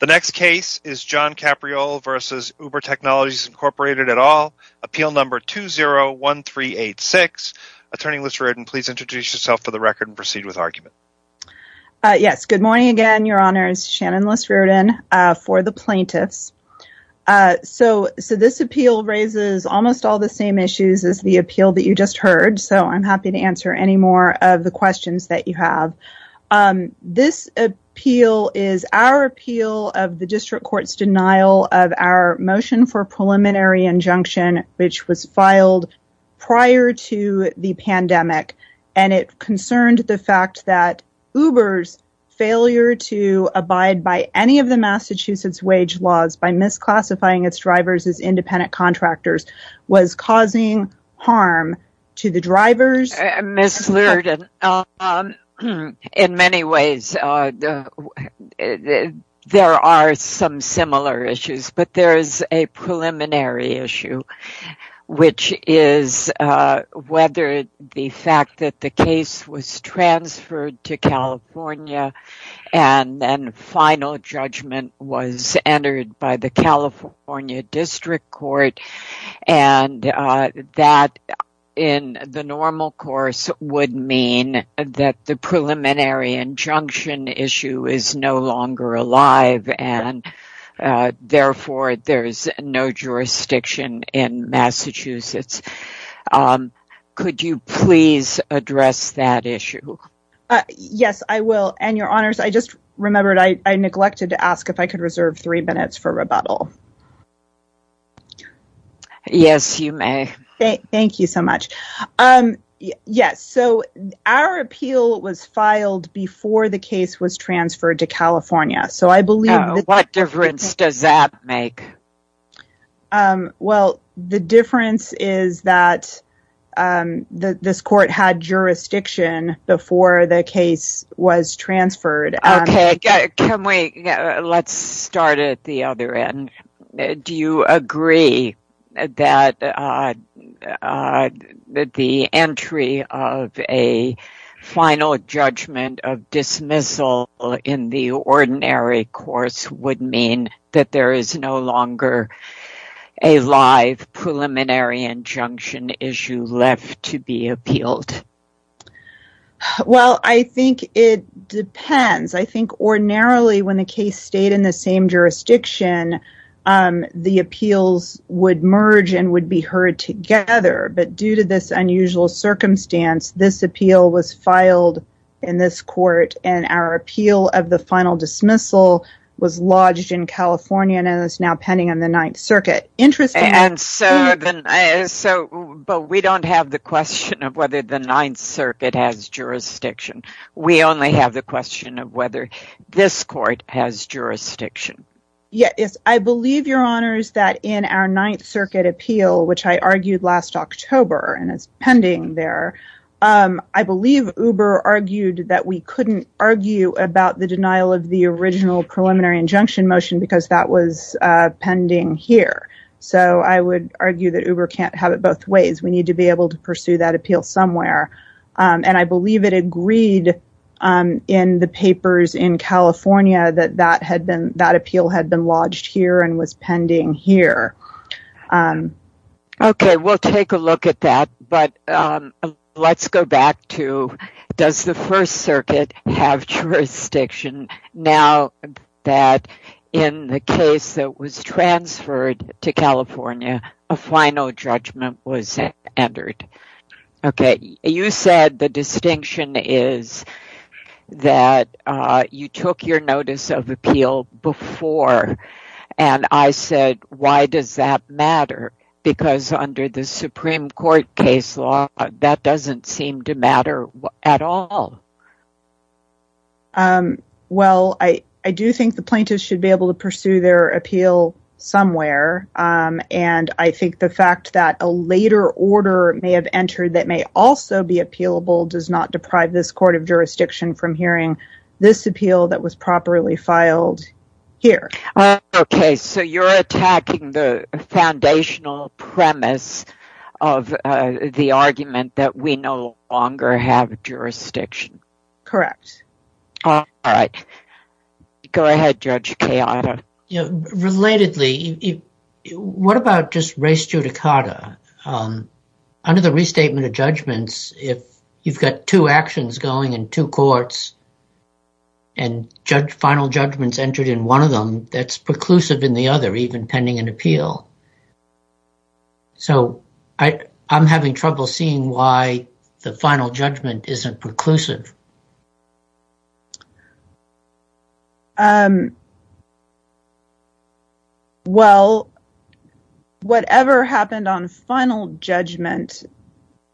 The next case is John Capriole versus Uber Technologies, Inc. at all. Appeal number 201386. Attorney Liz Riordan, please introduce yourself for the record and proceed with argument. Yes, good morning again, Your Honors. Shannon Liz Riordan for the plaintiffs. So this appeal raises almost all the same issues as the appeal that you just heard, so I'm happy to answer any more of the questions that you have. This appeal is our appeal of the district court's denial of our motion for preliminary injunction, which was filed prior to the pandemic, and it concerned the fact that Uber's failure to abide by any of the Massachusetts wage laws by misclassifying its drivers as independent In many ways, there are some similar issues, but there is a preliminary issue, which is whether the fact that the case was transferred to California and then final judgment was entered by the California District Court and that in the normal course would mean that the preliminary injunction issue is no longer alive and therefore there's no jurisdiction in Massachusetts. Could you please address that issue? Yes, I will, and Your Honors, I just remembered I neglected to ask if I could reserve three minutes for rebuttal. Yes, you may. Thank you so much. Yes, so our appeal was filed before the case was transferred to California, so I believe... What difference does that make? Well, the difference is that this court had jurisdiction before the case was transferred. Okay, let's start at the other end. Do you agree that the entry of a final judgment of dismissal in the ordinary course would mean that there is no longer a live preliminary injunction issue left to be appealed? Well, I think it depends. I think ordinarily when the case stayed in the same jurisdiction, the appeals would merge and would be heard together, but due to this unusual circumstance, this appeal was filed in this court and our appeal of the final dismissal was lodged in but we don't have the question of whether the Ninth Circuit has jurisdiction. We only have the question of whether this court has jurisdiction. Yes, I believe, Your Honors, that in our Ninth Circuit appeal, which I argued last October, and it's pending there, I believe Uber argued that we couldn't argue about the denial of the original preliminary injunction motion because that was pending here, so I would argue that we need to be able to pursue that appeal somewhere, and I believe it agreed in the papers in California that that appeal had been lodged here and was pending here. Okay, we'll take a look at that, but let's go back to does the First Circuit have jurisdiction now that in the case that was transferred to California, a final judgment was entered? Okay, you said the distinction is that you took your notice of appeal before, and I said, why does that matter? Because under the Supreme Court case law, that doesn't seem to matter at all. Well, I do think the plaintiffs should be able to pursue their appeal somewhere, and I think the fact that a later order may have entered that may also be appealable does not deprive this court of jurisdiction from hearing this appeal that was properly filed here. Okay, so you're attacking the foundational premise of the argument that we no longer have jurisdiction. Correct. All right. Go ahead, Judge Keanu. Relatedly, what about just race judicata? Under the restatement of judgments, if you've got two actions going in two courts and final judgments entered in one of them, that's preclusive in the other, even pending an appeal. So, I'm having trouble seeing why the final judgment isn't preclusive. Well, whatever happened on final judgment,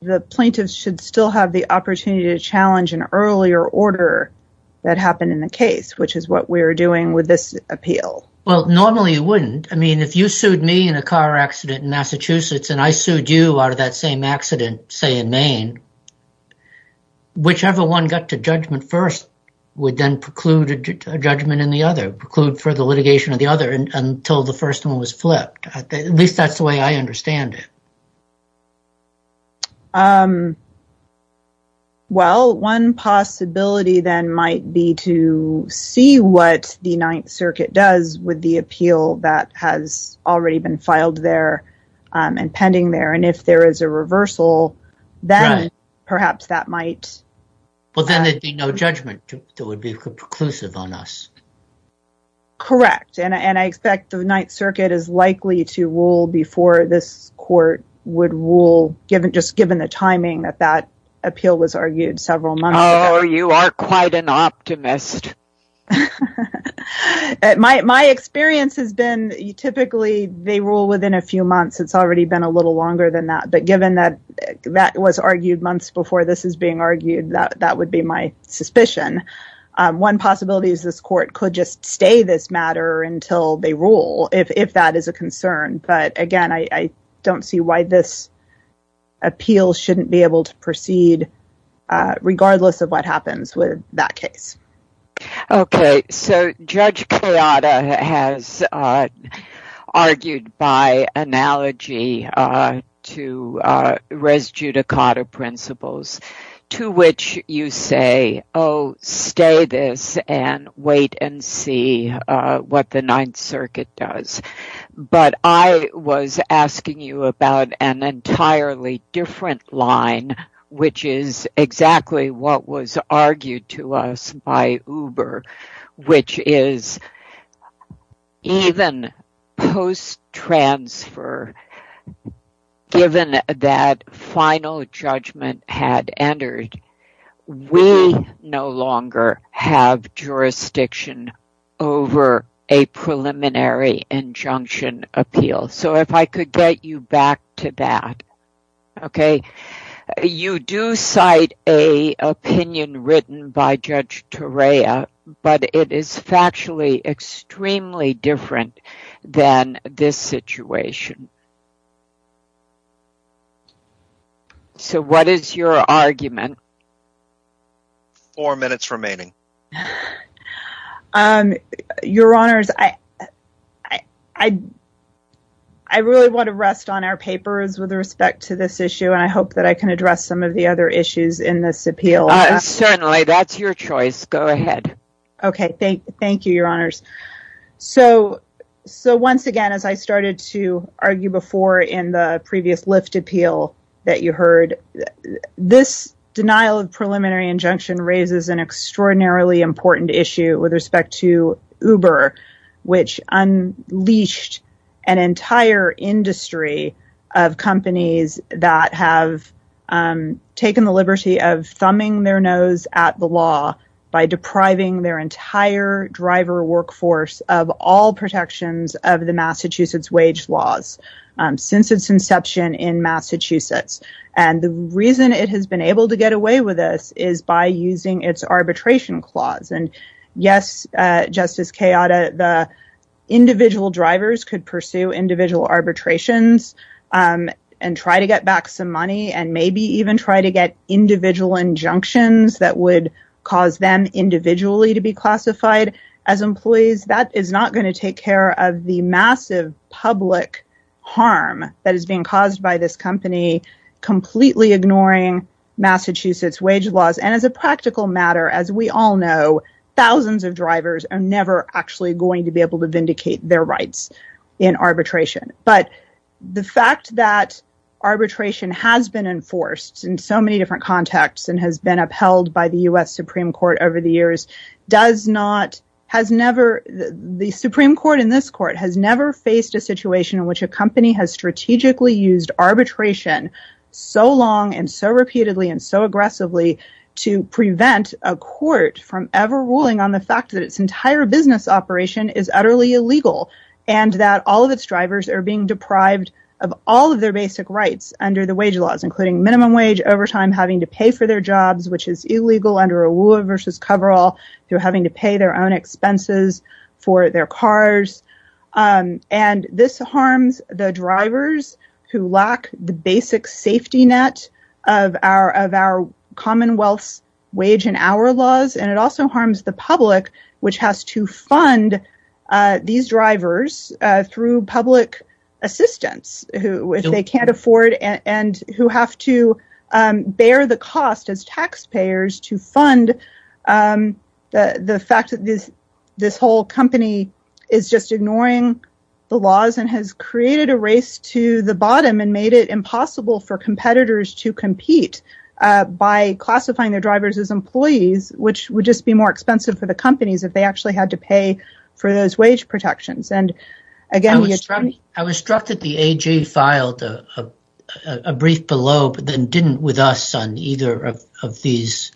the plaintiffs should still have the opportunity to challenge an earlier order that happened in the case, which is what we're doing with this car accident in Massachusetts, and I sued you out of that same accident, say, in Maine. Whichever one got to judgment first would then preclude a judgment in the other, preclude for the litigation of the other until the first one was flipped. At least that's the way I understand it. Well, one possibility then might be to see what the Ninth Circuit does with the appeal that has already been filed there and pending there, and if there is a reversal, then perhaps that might... Well, then there'd be no judgment that would be preclusive on us. Correct, and I expect the Ninth Circuit is likely to rule before this court would rule, just given the timing that that appeal was argued several months ago. Oh, you are quite an optimist. My experience has been typically they rule within a few months. It's already been a little longer than that, but given that that was argued months before this is being argued, that would be my suspicion. One possibility is this court could just stay this matter until they rule, if that is a concern, but again, I don't see why this appeal shouldn't be able to proceed regardless of what happens with that case. Okay, so Judge Cleata has argued by analogy to Res Judicata principles, to which you say, oh, stay this and wait and see what the Ninth Circuit does, but I was asking you about an entirely different line, which is exactly what was argued to us by Uber, which is even post-transfer, given that final judgment had entered, we no longer have appeal. So, if I could get you back to that. Okay, you do cite an opinion written by Judge Torea, but it is factually extremely different than this situation. So, what is your argument? Four minutes remaining. Um, your honors, I really want to rest on our papers with respect to this issue, and I hope that I can address some of the other issues in this appeal. Certainly, that's your choice. Go ahead. Okay, thank you, your honors. So, once again, as I started to argue before in the previous lift appeal that you heard, this denial of preliminary injunction raises an extraordinarily important issue with respect to Uber, which unleashed an entire industry of companies that have taken the liberty of thumbing their nose at the law by depriving their entire driver workforce of all protections of the Massachusetts wage laws since its inception in Massachusetts. And the reason it has been able to get away with this is by using its arbitration clause. And, yes, Justice Kayada, the individual drivers could pursue individual arbitrations and try to get back some money and maybe even try to get individual injunctions that would cause them individually to be classified as employees. That is not going to take care of the massive public harm that is being caused by this company completely ignoring Massachusetts wage laws. And as a practical matter, as we all know, thousands of drivers are never actually going to be able to vindicate their rights in arbitration. But the fact that arbitration has been enforced in so many different contexts and has been upheld by the U.S. Supreme Court over the years, the Supreme Court in this court has never faced a situation in which a company has strategically used arbitration so long and so repeatedly and so aggressively to prevent a court from ever ruling on the fact that its entire business operation is utterly illegal and that all of its drivers are being deprived of all of their which is illegal under a rule of versus coverall through having to pay their own expenses for their cars. And this harms the drivers who lack the basic safety net of our of our commonwealth's wage and hour laws. And it also harms the public, which has to fund these drivers through public assistants who if they can't afford and who have to bear the cost as taxpayers to fund the fact that this this whole company is just ignoring the laws and has created a race to the bottom and made it impossible for competitors to compete by classifying their drivers as employees, which would just be more expensive for the companies if they actually had to pay for those wage protections. And again, I was struck that the AG filed a brief below but then didn't with us on either of these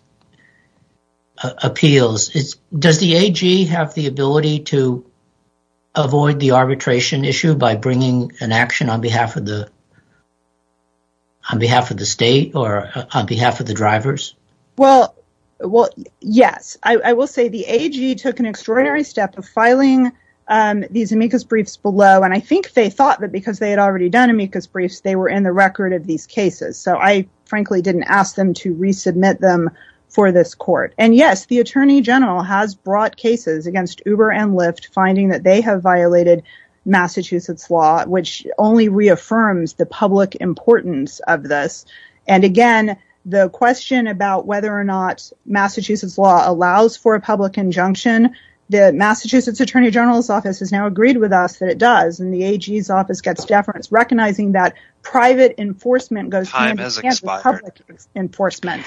appeals. Does the AG have the ability to avoid the arbitration issue by bringing an action on behalf of the on behalf of the state or on behalf of the drivers? Well, well, yes, I will say the AG took an extraordinary step of filing these amicus briefs below and I think they thought that because they had already done amicus briefs, they were in the record of these cases. So I frankly didn't ask them to resubmit them for this court. And yes, the Attorney General has brought cases against Uber and Lyft finding that they have violated Massachusetts law, which only reaffirms the public importance of this. And again, the question about whether or not Massachusetts law allows for a public injunction, the Massachusetts Attorney General's office has now agreed with us that it does and the AG's office gets deference recognizing that private enforcement goes public enforcement.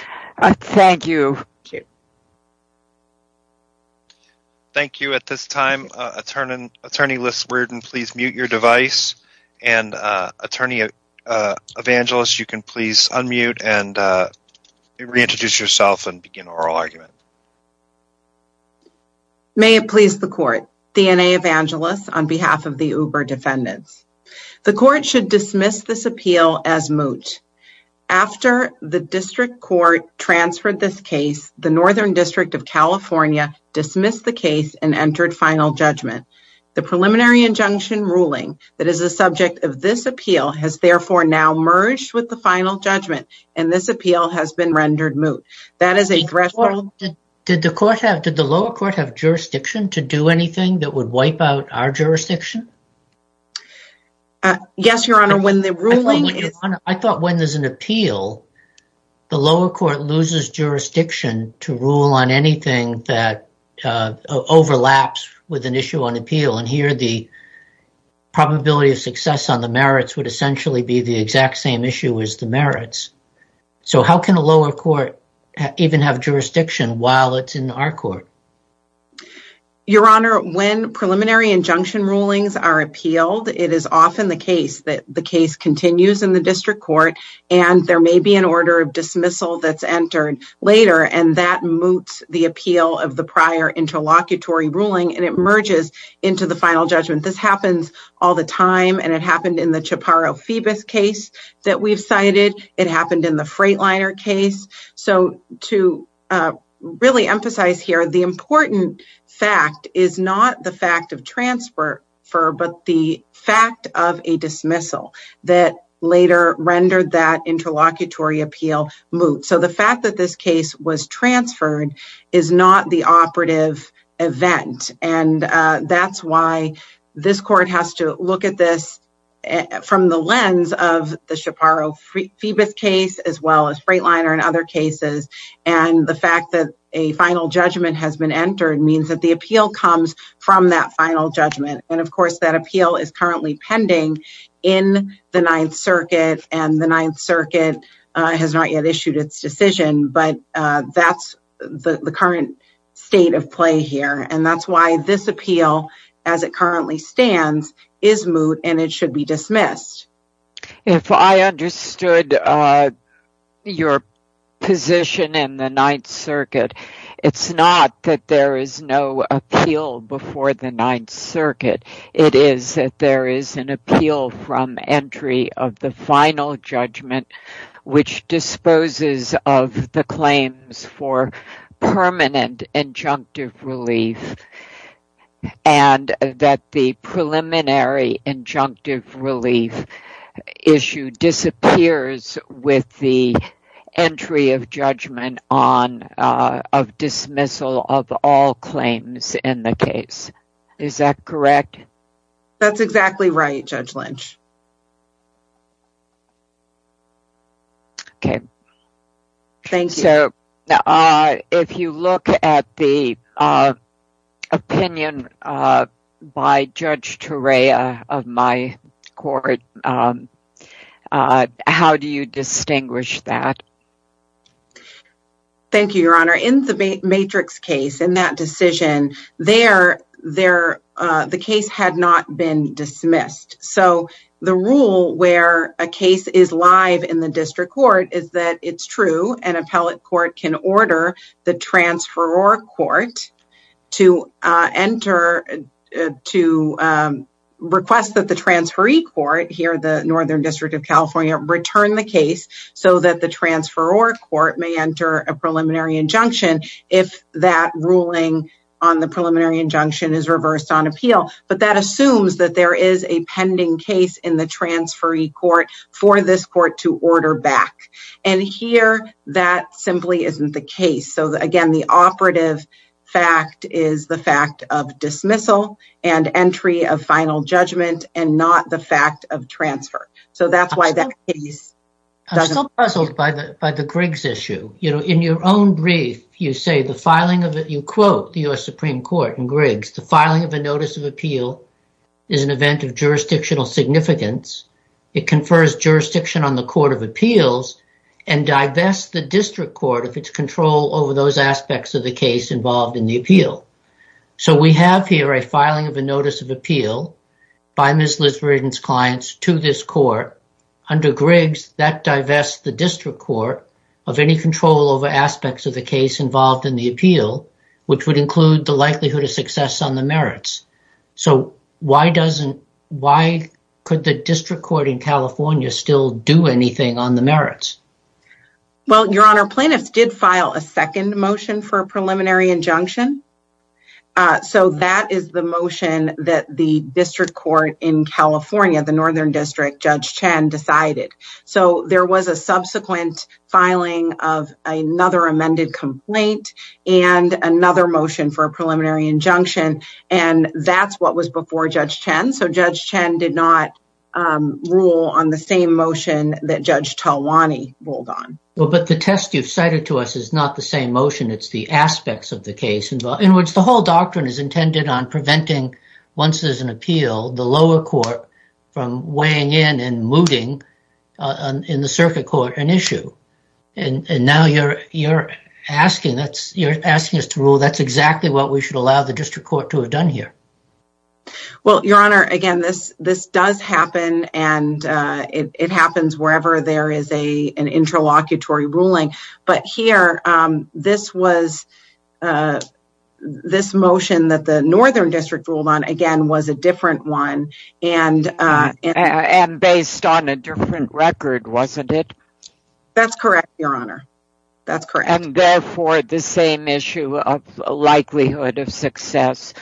Thank you. Thank you. At this time, Attorney Liz Wherden, please mute your device. And Attorney Evangelist, you can please unmute and reintroduce yourself and begin oral argument. May it please the court. Deanna Evangelist on behalf of the Uber defendants. The court should dismiss this appeal as moot. After the district court transferred this case, the Northern District of California dismissed the case and entered final judgment. The preliminary injunction ruling that is the subject of this appeal has therefore now merged with the final judgment. And this appeal has been rendered moot. That is a threat. Did the lower court have jurisdiction to do anything that would wipe out our jurisdiction? Yes, Your Honor. I thought when there's an appeal, the lower court loses jurisdiction to rule on anything that overlaps with an issue on appeal. And here the probability of success on the merits would essentially be the exact same issue as the merits. So how can the lower court even have jurisdiction while it's in our court? Your Honor, when preliminary injunction rulings are appealed, it is often the case that the case continues in the district court, and there may be an order of dismissal that's entered later, and that moots the appeal of the prior interlocutory ruling, and it merges into the final judgment. This happens all the time, and it happened in the Chaparro-Phoebus case that we've cited. It happened in the Freightliner case. So to really emphasize here, the important fact is not the fact of transfer, but the fact of a dismissal that later rendered that interlocutory appeal moot. So the fact that this case was transferred is not the operative event, and that's why this court has to look at this from the lens of the Chaparro-Phoebus case, as well as Freightliner and other cases. And the fact that a final judgment has been entered means that the appeal comes from that final judgment. And of course, that appeal is currently pending in the Ninth Circuit, and the Ninth Circuit has not yet issued its decision, but that's the current state of play here, and that's why this appeal, as it currently stands, is moot, and it should be dismissed. If I understood your position in the Ninth Circuit, it's not that there is no appeal before the Ninth Circuit. It is that there is an appeal from entry of the final judgment, which disposes of the claims for permanent injunctive relief, and that the preliminary injunctive relief issue disappears with the entry of judgment on a dismissal of all claims in the case. Is that correct? That's exactly right, Judge Lynch. Okay. Thank you. So, if you look at the opinion by Judge Turea of my court, how do you distinguish that? Thank you, Your Honor. In the Matrix case, in that decision, the case had not been dismissed, so the rule where a case is live in the district court is that it's true. An appellate court can order the transferor court to enter to request that the transferee court here, the Northern District of California, return the case so that the transferor court may enter a preliminary injunction if that ruling on the preliminary injunction is reversed on appeal. But that assumes that there is a pending case in the transferee court for this court to order back. And here, that simply isn't the case. So, again, the operative fact is the fact of dismissal and entry of final judgment and not the fact of transfer. So, that's why that case doesn't... I'm still puzzled by the Griggs issue. In your own brief, you say the filing of it, is an event of jurisdictional significance. It confers jurisdiction on the court of appeals and divests the district court of its control over those aspects of the case involved in the appeal. So, we have here a filing of a notice of appeal by Ms. Lisbergen's clients to this court. Under Griggs, that divests the district court of any control over aspects of the case involved in appeal, which would include the likelihood of success on the merits. So, why doesn't... Why could the district court in California still do anything on the merits? Well, Your Honor, plaintiffs did file a second motion for a preliminary injunction. So, that is the motion that the district court in California, the Northern District, Judge Chen, decided. So, there was a subsequent filing of another amended complaint and another motion for a preliminary injunction. And that's what was before Judge Chen. So, Judge Chen did not rule on the same motion that Judge Talwani ruled on. Well, but the test you've cited to us is not the same motion. It's the aspects of the case in which the whole doctrine is intended on preventing, once there's an appeal, the lower court from weighing in and mooting in the circuit court an issue. And now you're asking us to rule that's exactly what we should allow the district court to have done here. Well, Your Honor, again, this does happen and it happens wherever there is an interlocutory ruling. But here, this motion that the Northern District ruled on, again, was a different one and based on a different record, wasn't it? That's correct, Your Honor. That's correct. And therefore, the same issue of likelihood of success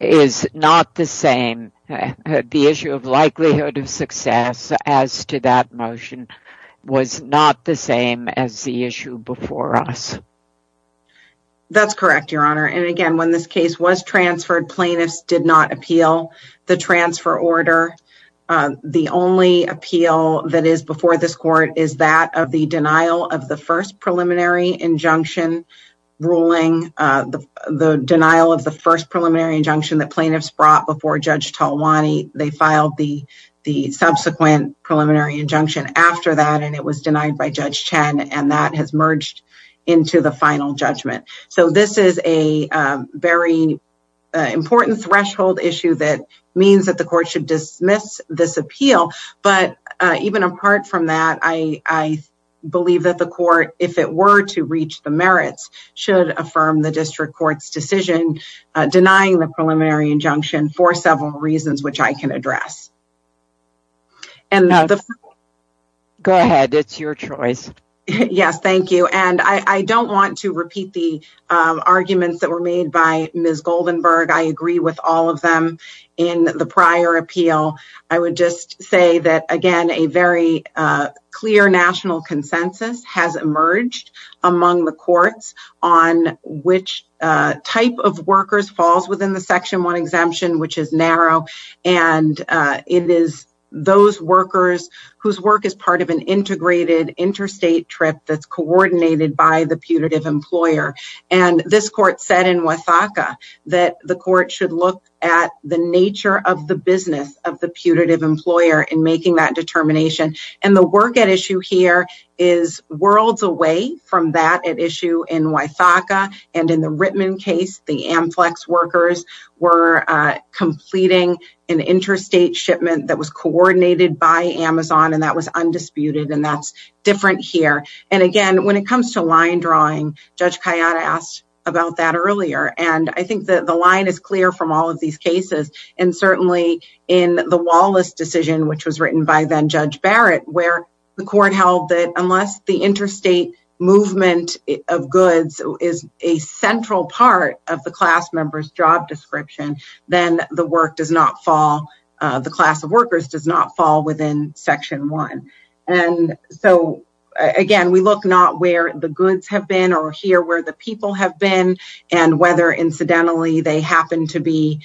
is not the same. The issue of likelihood of success as to that motion was not the same as the issue before us. That's correct, Your Honor. And again, when this case was transferred, plaintiffs did not appeal the transfer order. The only appeal that is before this court is that of the denial of the first preliminary injunction ruling, the denial of the first preliminary injunction that plaintiffs brought before Judge Talwani. They filed the subsequent preliminary injunction after that and it was denied by Judge Chen and that has merged into the final judgment. So this is a very important threshold issue that means that the court should dismiss this appeal. But even apart from that, I believe that the court, if it were to reach the merits, should affirm the district court's decision denying the preliminary injunction for several reasons, which I can it's your choice. Yes, thank you. And I don't want to repeat the arguments that were made by Ms. Goldenberg. I agree with all of them in the prior appeal. I would just say that again, a very clear national consensus has emerged among the courts on which type of workers falls within one exemption, which is narrow. And it is those workers whose work is part of an integrated interstate trip that's coordinated by the putative employer. And this court said in Wythaka that the court should look at the nature of the business of the putative employer in making that determination. And the work at issue here is worlds away from that at issue in Wythaka and in the Rittman case, the Amflex workers were completing an interstate shipment that was coordinated by Amazon. And that was undisputed. And that's different here. And again, when it comes to line drawing, Judge Kayada asked about that earlier. And I think that the line is clear from all of these cases. And certainly in the Wallace decision, which was written by then Judge Barrett, where the court held that unless the interstate movement of goods is a central part of the class member's job description, then the work does not fall, the class of workers does not fall within section one. And so again, we look not where the goods have been or here where the people have been and whether incidentally they happen to be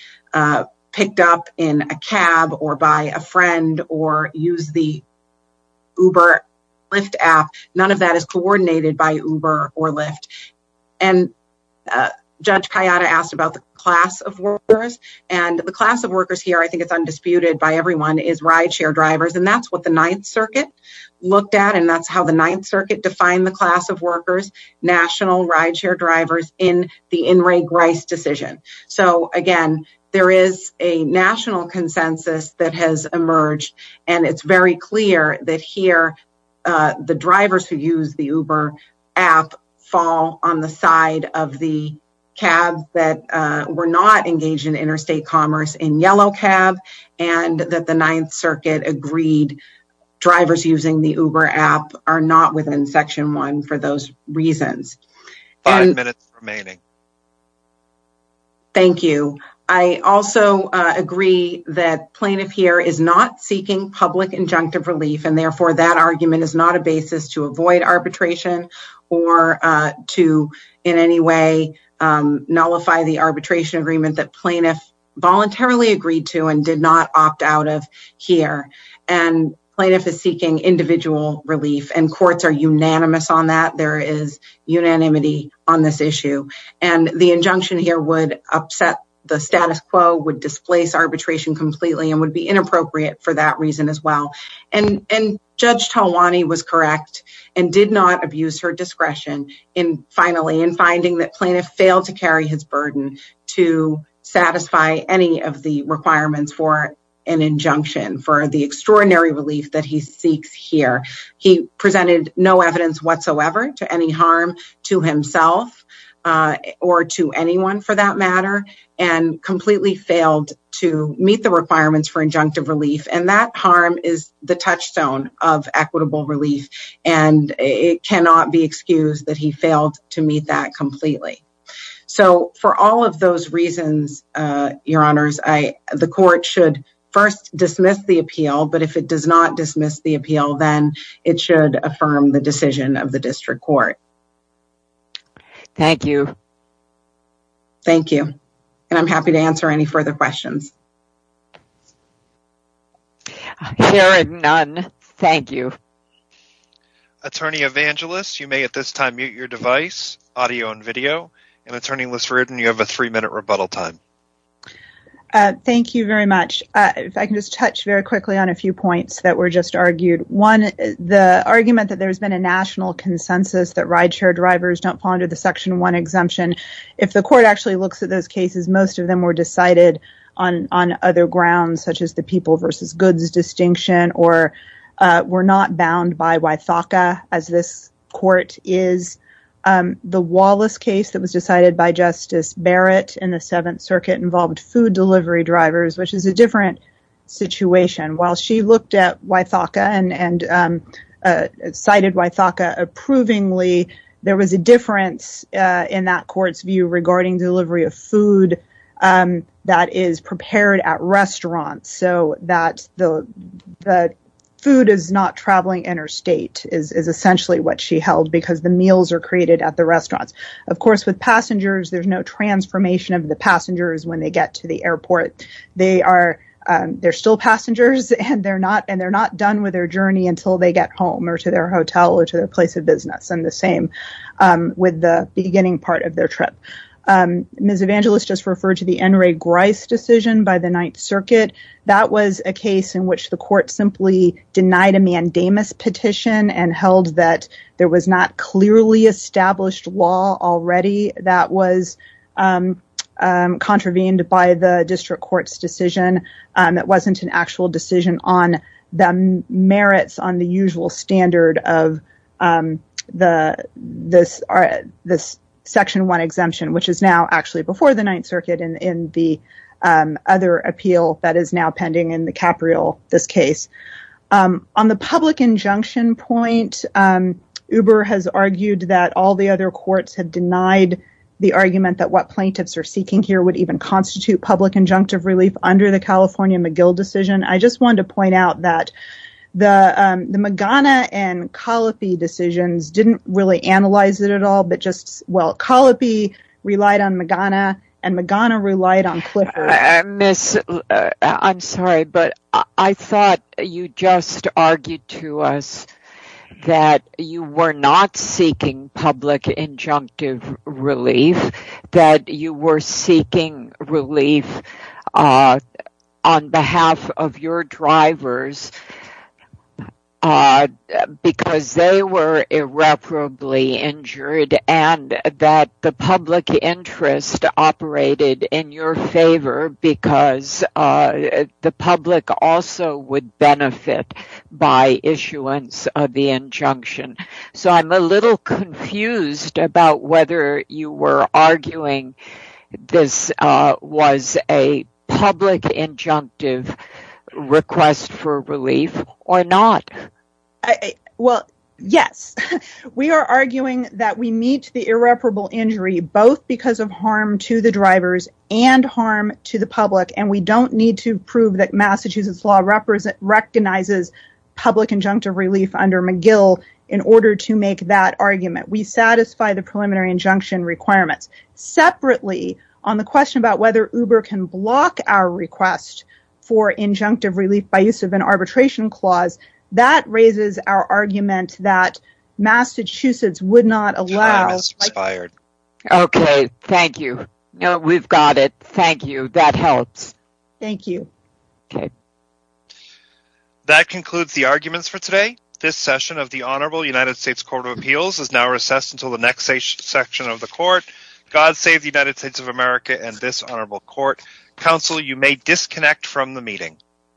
picked up in a cab or by a friend or use the Uber Lyft app. None of that is coordinated by Uber or Lyft. And Judge Kayada asked about the class of workers and the class of workers here. I think it's undisputed by everyone is rideshare drivers. And that's what the Ninth Circuit looked at. And that's how the Ninth Circuit defined the class of workers, national rideshare drivers in the In re Grice decision. So again, there is a national consensus that has emerged and it's very clear that here the drivers who use the Uber app fall on the side of the cab that were not engaged in interstate commerce in yellow cab and that the Ninth Circuit agreed drivers using the Uber app are not within section one for those reasons. Five minutes remaining. Thank you. I also agree that plaintiff here is not seeking public injunctive relief and therefore that argument is not a basis to avoid arbitration or to in any way nullify the arbitration agreement that plaintiff voluntarily agreed to and did not unanimity on this issue. And the injunction here would upset the status quo, would displace arbitration completely and would be inappropriate for that reason as well. And Judge Talwani was correct and did not abuse her discretion in finally in finding that plaintiff failed to carry his burden to satisfy any of the requirements for an injunction for the extraordinary relief that he seeks here. He presented no evidence whatsoever to any harm to himself or to anyone for that matter and completely failed to meet the requirements for injunctive relief. And that harm is the touchstone of equitable relief and it cannot be excused that he failed to meet that completely. So for all of those reasons, uh, your honors, I, the court should first dismiss the appeal. Then it should affirm the decision of the district court. Thank you. Thank you. And I'm happy to answer any further questions. Hearing none, thank you. Attorney Evangelist, you may at this time mute your device, audio and video. And Attorney Lisseruden, you have a three-minute rebuttal time. Uh, thank you very much. Uh, if I can just touch very quickly on a few points that were just argued. One, the argument that there's been a national consensus that rideshare drivers don't fall under the section one exemption. If the court actually looks at those cases, most of them were decided on, on other grounds, such as the people versus goods distinction or, uh, were not bound by Ythaka as this court is. Um, the Wallace case that was decided by Justice Barrett in the seventh circuit involved food delivery drivers, which is a different situation. While she looked at Ythaka and, and, um, uh, cited Ythaka approvingly, there was a difference, uh, in that court's view regarding delivery of food, um, that is prepared at restaurants. So that the, the food is not traveling interstate is, is essentially what she held because the meals are created at the airport. They are, um, they're still passengers and they're not, and they're not done with their journey until they get home or to their hotel or to their place of business. And the same, um, with the beginning part of their trip. Um, Ms. Evangelist just referred to the N. Ray Grice decision by the ninth circuit. That was a case in which the court simply denied a mandamus petition and held that there was not clearly established law already that was, um, um, contravened by the district court's decision. Um, it wasn't an actual decision on the merits on the usual standard of, um, the, this, uh, this section one exemption, which is now actually before the ninth circuit in the, um, other appeal that is now pending in the Capriol, this case. Um, on the public injunction point, um, Uber has argued that all the other courts had denied the argument that what plaintiffs are seeking here would even constitute public injunctive relief under the California McGill decision. I just wanted to point out that the, um, the Magana and Colopy decisions didn't really analyze it at all, but just, well, Colopy relied on Magana and Magana relied on Clifford. Uh, Ms., uh, I'm sorry, but I thought you just argued to us that you were not seeking public injunctive relief, that you were seeking relief, uh, on behalf of your drivers, uh, because they were irreparably injured, and that the public interest operated in your favor because, uh, the public also would benefit by issuance of the injunction. So, I'm a little confused about whether you were arguing this, uh, was a public injunctive request for relief, or not. I, well, yes. We are arguing that we meet the irreparable injury, both because of harm to the drivers and harm to the public, and we don't need to prove that Massachusetts law represent, recognizes public injunctive relief under McGill in order to make that argument. We satisfy the preliminary injunction requirements. Separately, on the question about whether Uber can block our request for injunctive relief by use of an arbitration clause, that raises our argument that Massachusetts would not allow... Time has expired. Okay, thank you. No, we've got it. Thank you. That helps. Thank you. Okay. That concludes the arguments for today. This session of the Honorable United States Court of Appeals is now recessed until the next section of the Court. God save the United States of America and this Honorable Court. Counsel, you may disconnect from the meeting.